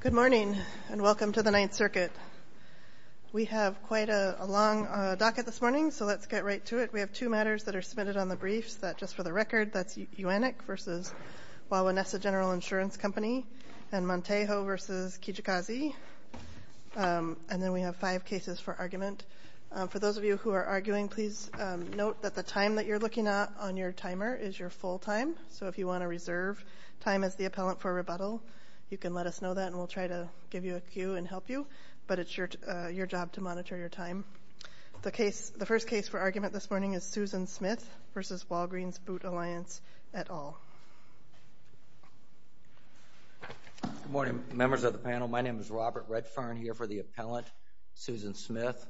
Good morning and welcome to the Ninth Circuit. We have quite a long docket this morning, so let's get right to it. We have two matters that are submitted on the briefs. Just for the record, that's UANIC v. Wawa Nessa General Insurance Company and Mantejo v. Kijikazi. And then we have five cases for argument. For those of you who are arguing, please note that the time that you're looking at on your timer is your full time. So if you want to reserve time as the appellant for rebuttal, you can let us know that, and we'll try to give you a cue and help you. But it's your job to monitor your time. The first case for argument this morning is Susan Smith v. Walgreens Boot Alliance, et al. Good morning, members of the panel. My name is Robert Redfern here for the appellant, Susan Smith.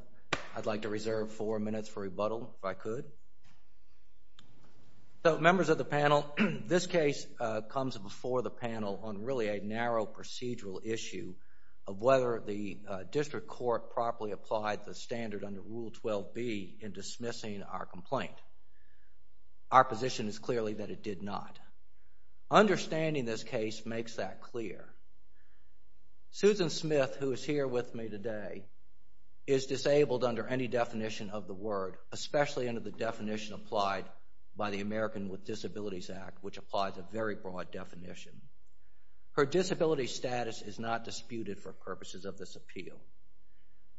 I'd like to reserve four minutes for rebuttal, if I could. So, members of the panel, this case comes before the panel on really a narrow procedural issue of whether the district court properly applied the standard under Rule 12b in dismissing our complaint. Our position is clearly that it did not. Understanding this case makes that clear. Susan Smith, who is here with me today, is disabled under any definition of the word, especially under the definition applied by the American with Disabilities Act, which applies a very broad definition. Her disability status is not disputed for purposes of this appeal.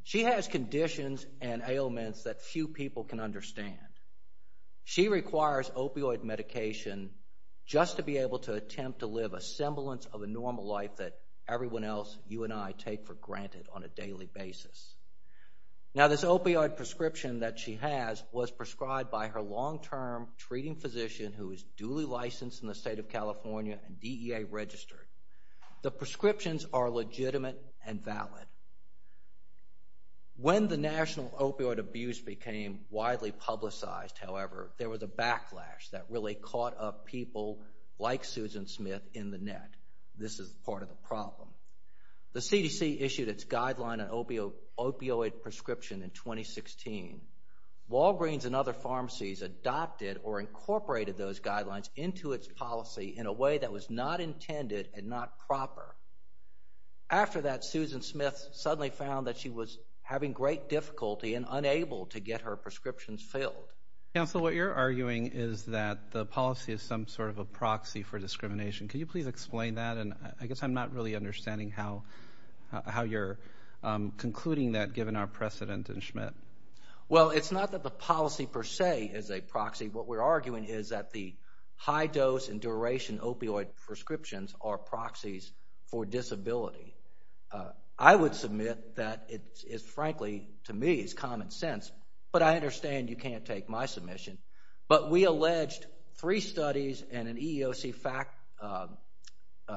She has conditions and ailments that few people can understand. She requires opioid medication just to be able to attempt to live a semblance of a normal life that everyone else, you and I, take for granted on a daily basis. Now, this opioid prescription that she has was prescribed by her long-term treating physician who is duly licensed in the state of California and DEA registered. The prescriptions are legitimate and valid. When the national opioid abuse became widely publicized, however, there was a backlash that really caught up people like Susan Smith in the net. This is part of the problem. The CDC issued its guideline on opioid prescription in 2016. Walgreens and other pharmacies adopted or incorporated those guidelines into its policy in a way that was not intended and not proper. After that, Susan Smith suddenly found that she was having great difficulty and unable to get her prescriptions filled. Counsel, what you're arguing is that the policy is some sort of a proxy for discrimination. Can you please explain that? And I guess I'm not really understanding how you're concluding that given our precedent in Schmidt. Well, it's not that the policy per se is a proxy. What we're arguing is that the high-dose and duration opioid prescriptions are proxies for disability. I would submit that it is, frankly, to me, it's common sense. But I understand you can't take my submission. But we alleged three studies and an EEOC fact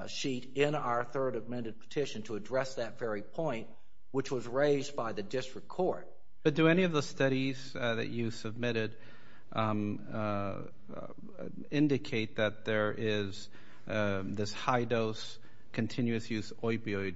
sheet in our third amended petition to address that very point, which was raised by the district court. But do any of the studies that you submitted indicate that there is this high-dose, continuous-use opioid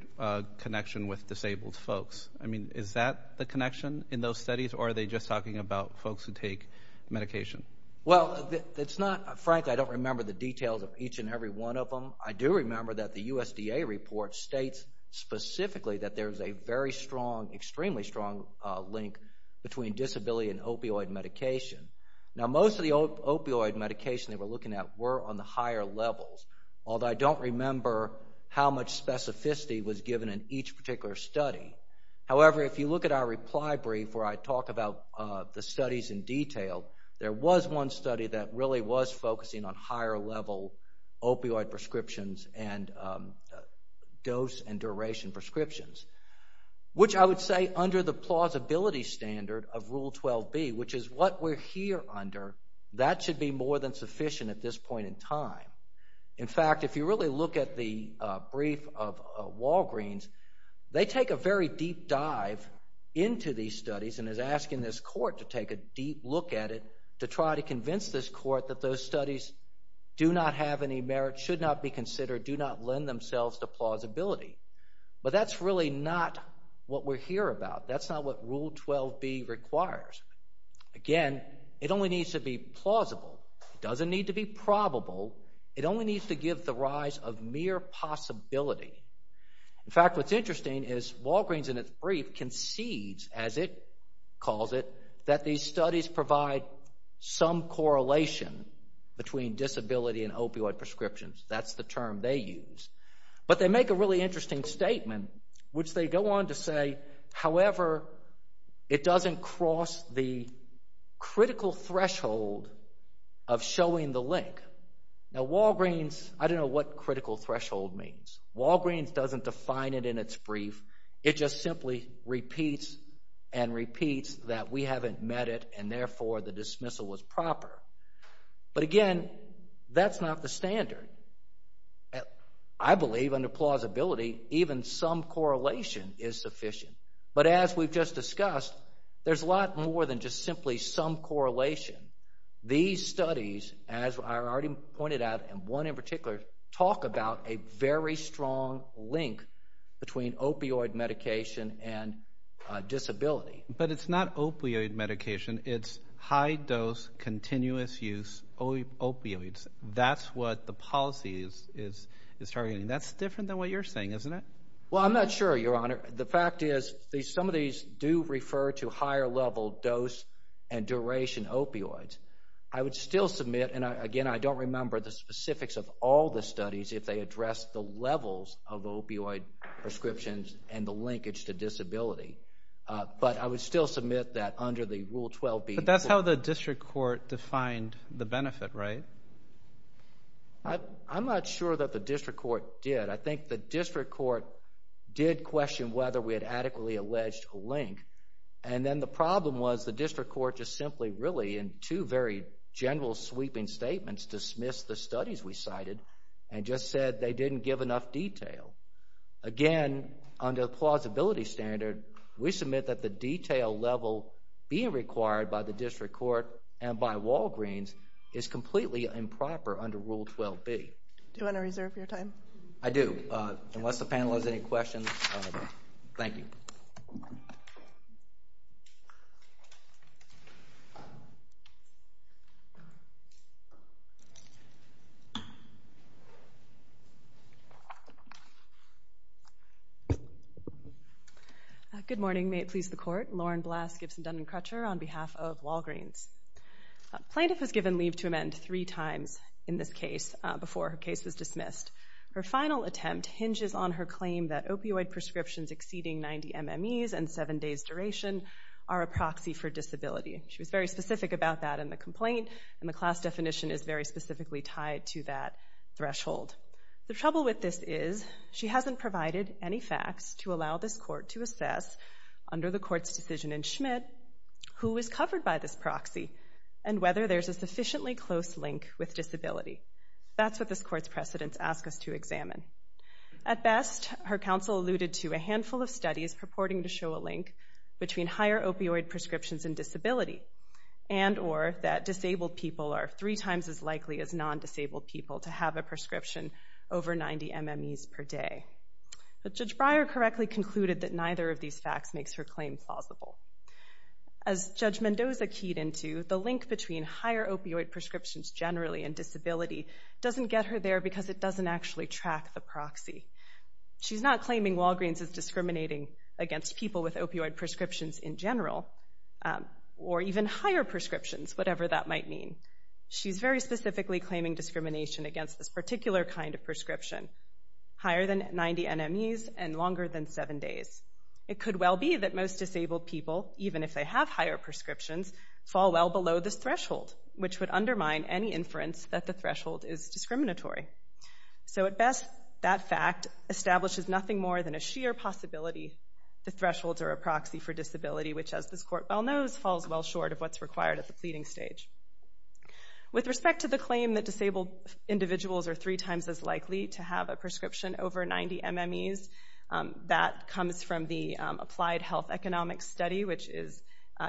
connection with disabled folks? I mean, is that the connection in those studies, or are they just talking about folks who take medication? Well, it's not. Frankly, I don't remember the details of each and every one of them. I do remember that the USDA report states specifically that there is a very strong, extremely strong link between disability and opioid medication. Now, most of the opioid medication they were looking at were on the higher levels, although I don't remember how much specificity was given in each particular study. However, if you look at our reply brief where I talk about the studies in detail, there was one study that really was focusing on higher-level opioid prescriptions and dose and duration prescriptions, which I would say under the plausibility standard of Rule 12b, which is what we're here under, that should be more than sufficient at this point in time. In fact, if you really look at the brief of Walgreens, they take a very deep dive into these studies and is asking this court to take a deep look at it to try to convince this court that those studies do not have any merit, should not be considered, do not lend themselves to plausibility. But that's really not what we're here about. That's not what Rule 12b requires. Again, it only needs to be plausible. It doesn't need to be probable. It only needs to give the rise of mere possibility. In fact, what's interesting is Walgreens in its brief concedes, as it calls it, that these studies provide some correlation between disability and opioid prescriptions. That's the term they use. But they make a really interesting statement, which they go on to say, however, it doesn't cross the critical threshold of showing the link. Now, Walgreens, I don't know what critical threshold means. Walgreens doesn't define it in its brief. It just simply repeats and repeats that we haven't met it and therefore the dismissal was proper. But again, that's not the standard. I believe under plausibility even some correlation is sufficient. But as we've just discussed, there's a lot more than just simply some correlation. These studies, as I already pointed out, and one in particular, talk about a very strong link between opioid medication and disability. But it's not opioid medication. It's high-dose, continuous-use opioids. That's what the policy is targeting. That's different than what you're saying, isn't it? Well, I'm not sure, Your Honor. The fact is some of these do refer to higher-level dose and duration opioids. I would still submit, and again, I don't remember the specifics of all the studies if they address the levels of opioid prescriptions and the linkage to disability. But I would still submit that under the Rule 12B. But that's how the district court defined the benefit, right? I'm not sure that the district court did. I think the district court did question whether we had adequately alleged a link. And then the problem was the district court just simply really, in two very general sweeping statements, dismissed the studies we cited and just said they didn't give enough detail. Again, under the plausibility standard, we submit that the detail level being required by the district court and by Walgreens is completely improper under Rule 12B. Do you want to reserve your time? I do. Unless the panel has any questions, thank you. Good morning. May it please the Court. Lauren Blass, Gibson-Duncan Crutcher on behalf of Walgreens. A plaintiff was given leave to amend three times in this case before her case was dismissed. Her final attempt hinges on her claim that opioid prescriptions exceeding 90 MMEs and seven days duration are a proxy for disability. She was very specific about that in the complaint, and the class definition is very specifically tied to that threshold. The trouble with this is she hasn't provided any facts to allow this court to assess under the court's decision in Schmidt, who is covered by this proxy and whether there's a sufficiently close link with disability. That's what this court's precedents ask us to examine. At best, her counsel alluded to a handful of studies purporting to show a link between higher opioid prescriptions and disability and or that disabled people are three times as likely as non-disabled people to have a prescription over 90 MMEs per day. But Judge Breyer correctly concluded that neither of these facts makes her claim plausible. As Judge Mendoza keyed into, the link between higher opioid prescriptions generally and disability doesn't get her there because it doesn't actually track the proxy. She's not claiming Walgreens is discriminating against people with opioid prescriptions in general or even higher prescriptions, whatever that might mean. She's very specifically claiming discrimination against this particular kind of prescription, higher than 90 MMEs and longer than seven days. It could well be that most disabled people, even if they have higher prescriptions, fall well below this threshold, which would undermine any inference that the threshold is discriminatory. So at best, that fact establishes nothing more than a sheer possibility that thresholds are a proxy for disability, which, as this court well knows, falls well short of what's required at the pleading stage. With respect to the claim that disabled individuals are three times as likely to have a prescription over 90 MMEs, that comes from the Applied Health Economics Study, which is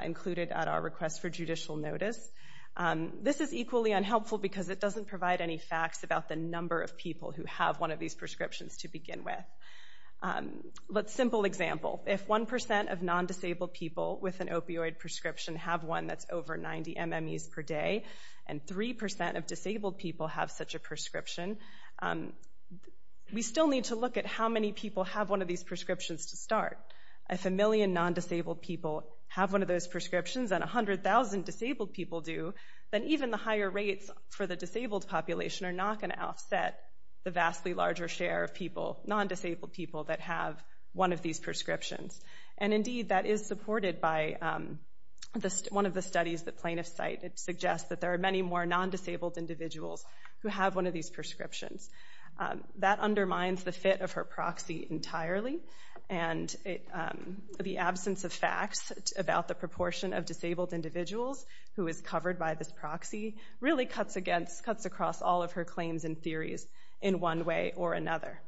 included at our request for judicial notice. This is equally unhelpful because it doesn't provide any facts about the number of people who have one of these prescriptions to begin with. Let's simple example. If 1% of non-disabled people with an opioid prescription have one that's over 90 MMEs per day and 3% of disabled people have such a prescription, we still need to look at how many people have one of these prescriptions to start. If a million non-disabled people have one of those prescriptions and 100,000 disabled people do, then even the higher rates for the disabled population are not going to offset the vastly larger share of people, non-disabled people, that have one of these prescriptions. And indeed, that is supported by one of the studies that plaintiffs cite. It suggests that there are many more non-disabled individuals who have one of these prescriptions. That undermines the fit of her proxy entirely, and the absence of facts about the proportion of disabled individuals who is covered by this proxy really cuts across all of her claims and theories in one way or another.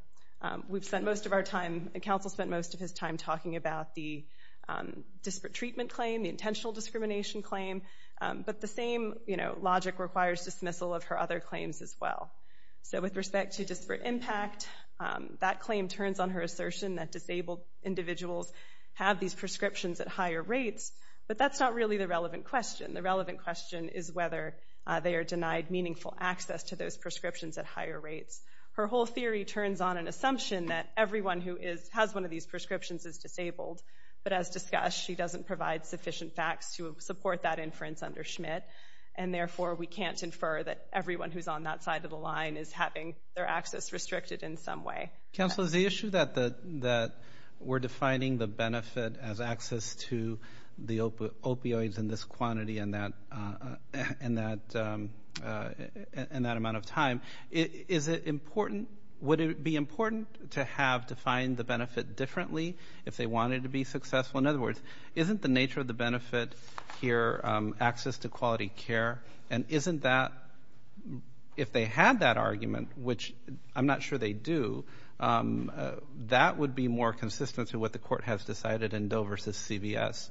We've spent most of our time, and counsel spent most of his time talking about the disparate treatment claim, the intentional discrimination claim, but the same logic requires dismissal of her other claims as well. So with respect to disparate impact, that claim turns on her assertion that disabled individuals have these prescriptions at higher rates, but that's not really the relevant question. The relevant question is whether they are denied meaningful access to those prescriptions at higher rates. Her whole theory turns on an assumption that everyone who has one of these prescriptions is disabled, but as discussed, she doesn't provide sufficient facts to support that inference under Schmidt, and therefore we can't infer that everyone who's on that side of the line is having their access restricted in some way. Counsel, the issue that we're defining the benefit as access to the opioids in this quantity and that amount of time, would it be important to have defined the benefit differently if they wanted to be successful? In other words, isn't the nature of the benefit here access to quality care? And isn't that, if they had that argument, which I'm not sure they do, that would be more consistent to what the court has decided in Doe versus CVS?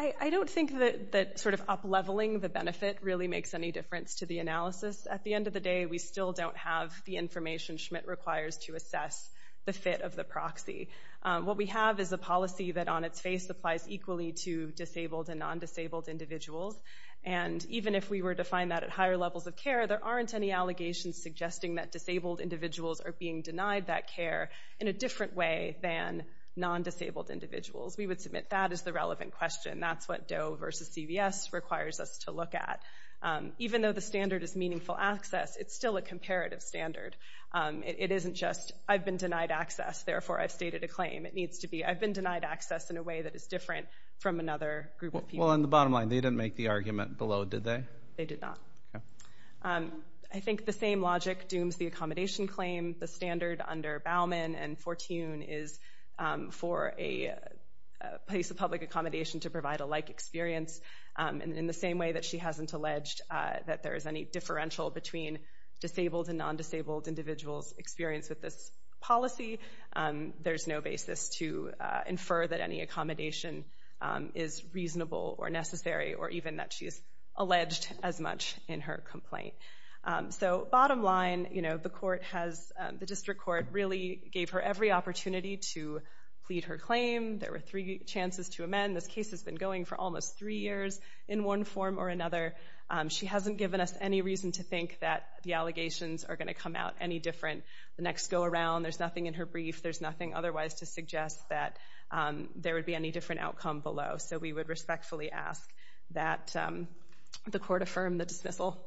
I don't think that sort of up-leveling the benefit really makes any difference to the analysis. At the end of the day, we still don't have the information that Schmidt requires to assess the fit of the proxy. What we have is a policy that, on its face, applies equally to disabled and non-disabled individuals, and even if we were to find that at higher levels of care, there aren't any allegations suggesting that disabled individuals are being denied that care in a different way than non-disabled individuals. We would submit that as the relevant question. That's what Doe versus CVS requires us to look at. Even though the standard is meaningful access, it's still a comparative standard. It isn't just, I've been denied access, therefore I've stated a claim. I've been denied access in a way that is different from another group of people. Well, on the bottom line, they didn't make the argument below, did they? They did not. I think the same logic dooms the accommodation claim. The standard under Baumann and Fortune is for a place of public accommodation to provide a like experience, in the same way that she hasn't alleged that there is any differential between disabled and non-disabled individuals' experience with this policy. There's no basis to infer that any accommodation is reasonable or necessary, or even that she's alleged as much in her complaint. So, bottom line, the court has, the district court really gave her every opportunity to plead her claim. There were three chances to amend. This case has been going for almost three years in one form or another. She hasn't given us any reason to think that the allegations are going to come out any different. The next go-around, there's nothing in her brief, there's nothing otherwise to suggest that there would be any different outcome below. So we would respectfully ask that the court affirm the dismissal.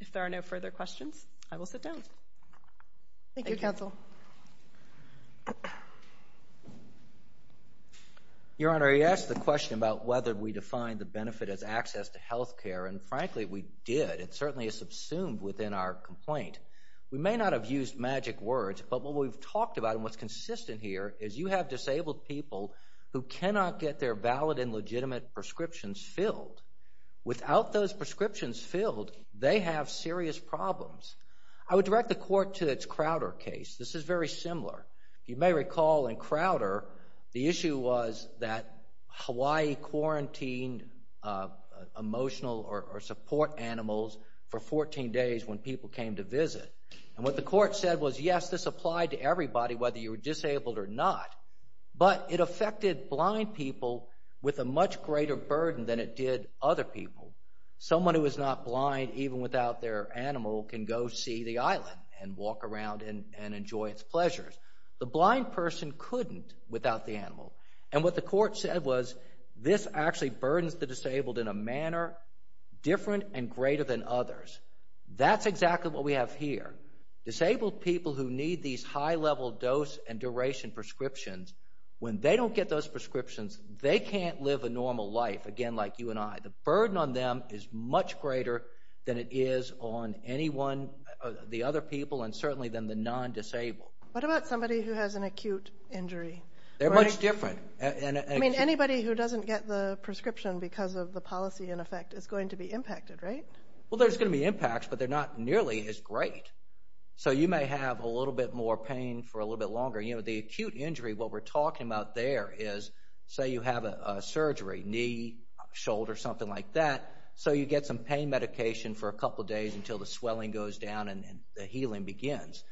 If there are no further questions, I will sit down. Thank you, counsel. Your Honor, you asked the question about whether we define the benefit as access to health care, and frankly, we did. It certainly is subsumed within our complaint. We may not have used magic words, but what we've talked about and what's consistent here is you have disabled people who cannot get their valid and legitimate prescriptions filled. Without those prescriptions filled, they have serious problems. I would direct the court to its Crowder case. This is very similar. You may recall in Crowder, the issue was that Hawaii quarantined emotional or support animals for 14 days when people came to visit. And what the court said was, yes, this applied to everybody, whether you were disabled or not, but it affected blind people with a much greater burden than it did other people. Someone who is not blind, even without their animal, can go see the island and walk around and enjoy its pleasures. The blind person couldn't without the animal. And what the court said was, this actually burdens the disabled in a manner different and greater than others. That's exactly what we have here. Disabled people who need these high-level dose and duration prescriptions, when they don't get those prescriptions, they can't live a normal life, again, like you and I. The burden on them is much greater than it is on anyone, the other people, and certainly than the non-disabled. What about somebody who has an acute injury? They're much different. I mean, anybody who doesn't get the prescription because of the policy in effect is going to be impacted, right? Well, there's going to be impacts, but they're not nearly as great. So you may have a little bit more pain for a little bit longer. You know, the acute injury, what we're talking about there is, say you have a surgery, knee, shoulder, something like that, so you get some pain medication for a couple days until the swelling goes down and the healing begins.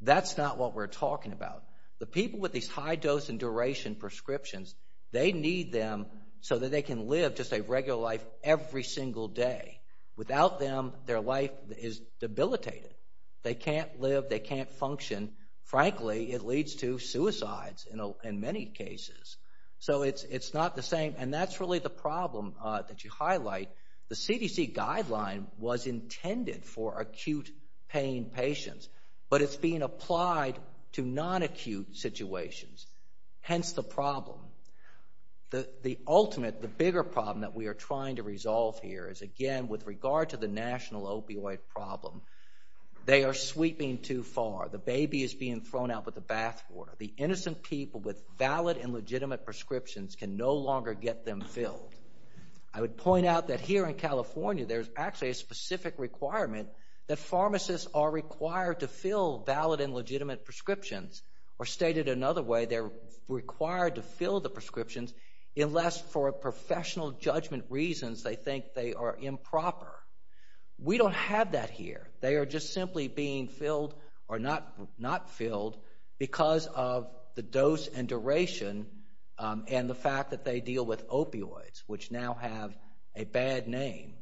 That's not what we're talking about. The people with these high-dose and duration prescriptions, they need them so that they can live just a regular life every single day. Without them, their life is debilitated. They can't live, they can't function. Frankly, it leads to suicides in many cases. So it's not the same, and that's really the problem that you highlight. The CDC guideline was intended for acute pain patients, but it's being applied to non-acute situations, hence the problem. The ultimate, the bigger problem that we are trying to resolve here is, again, with regard to the national opioid problem. They are sweeping too far. The baby is being thrown out with the bathwater. The innocent people with valid and legitimate prescriptions can no longer get them filled. I would point out that here in California, there's actually a specific requirement that pharmacists are required to fill valid and legitimate prescriptions, or stated another way, they're required to fill the prescriptions unless, for professional judgment reasons, they think they are improper. We don't have that here. They are just simply being filled or not filled because of the dose and duration and the fact that they deal with opioids, which now have a bad name.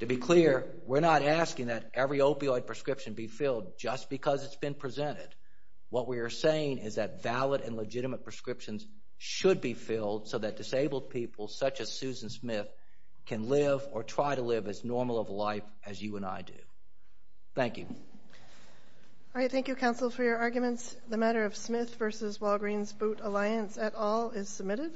To be clear, we're not asking that every opioid prescription be filled just because it's been presented. What we are saying is that valid and legitimate prescriptions should be filled so that disabled people, such as Susan Smith, can live or try to live as normal of a life as you and I do. Thank you. All right, thank you, counsel, for your arguments. The matter of Smith v. Walgreens Boot Alliance et al. is submitted.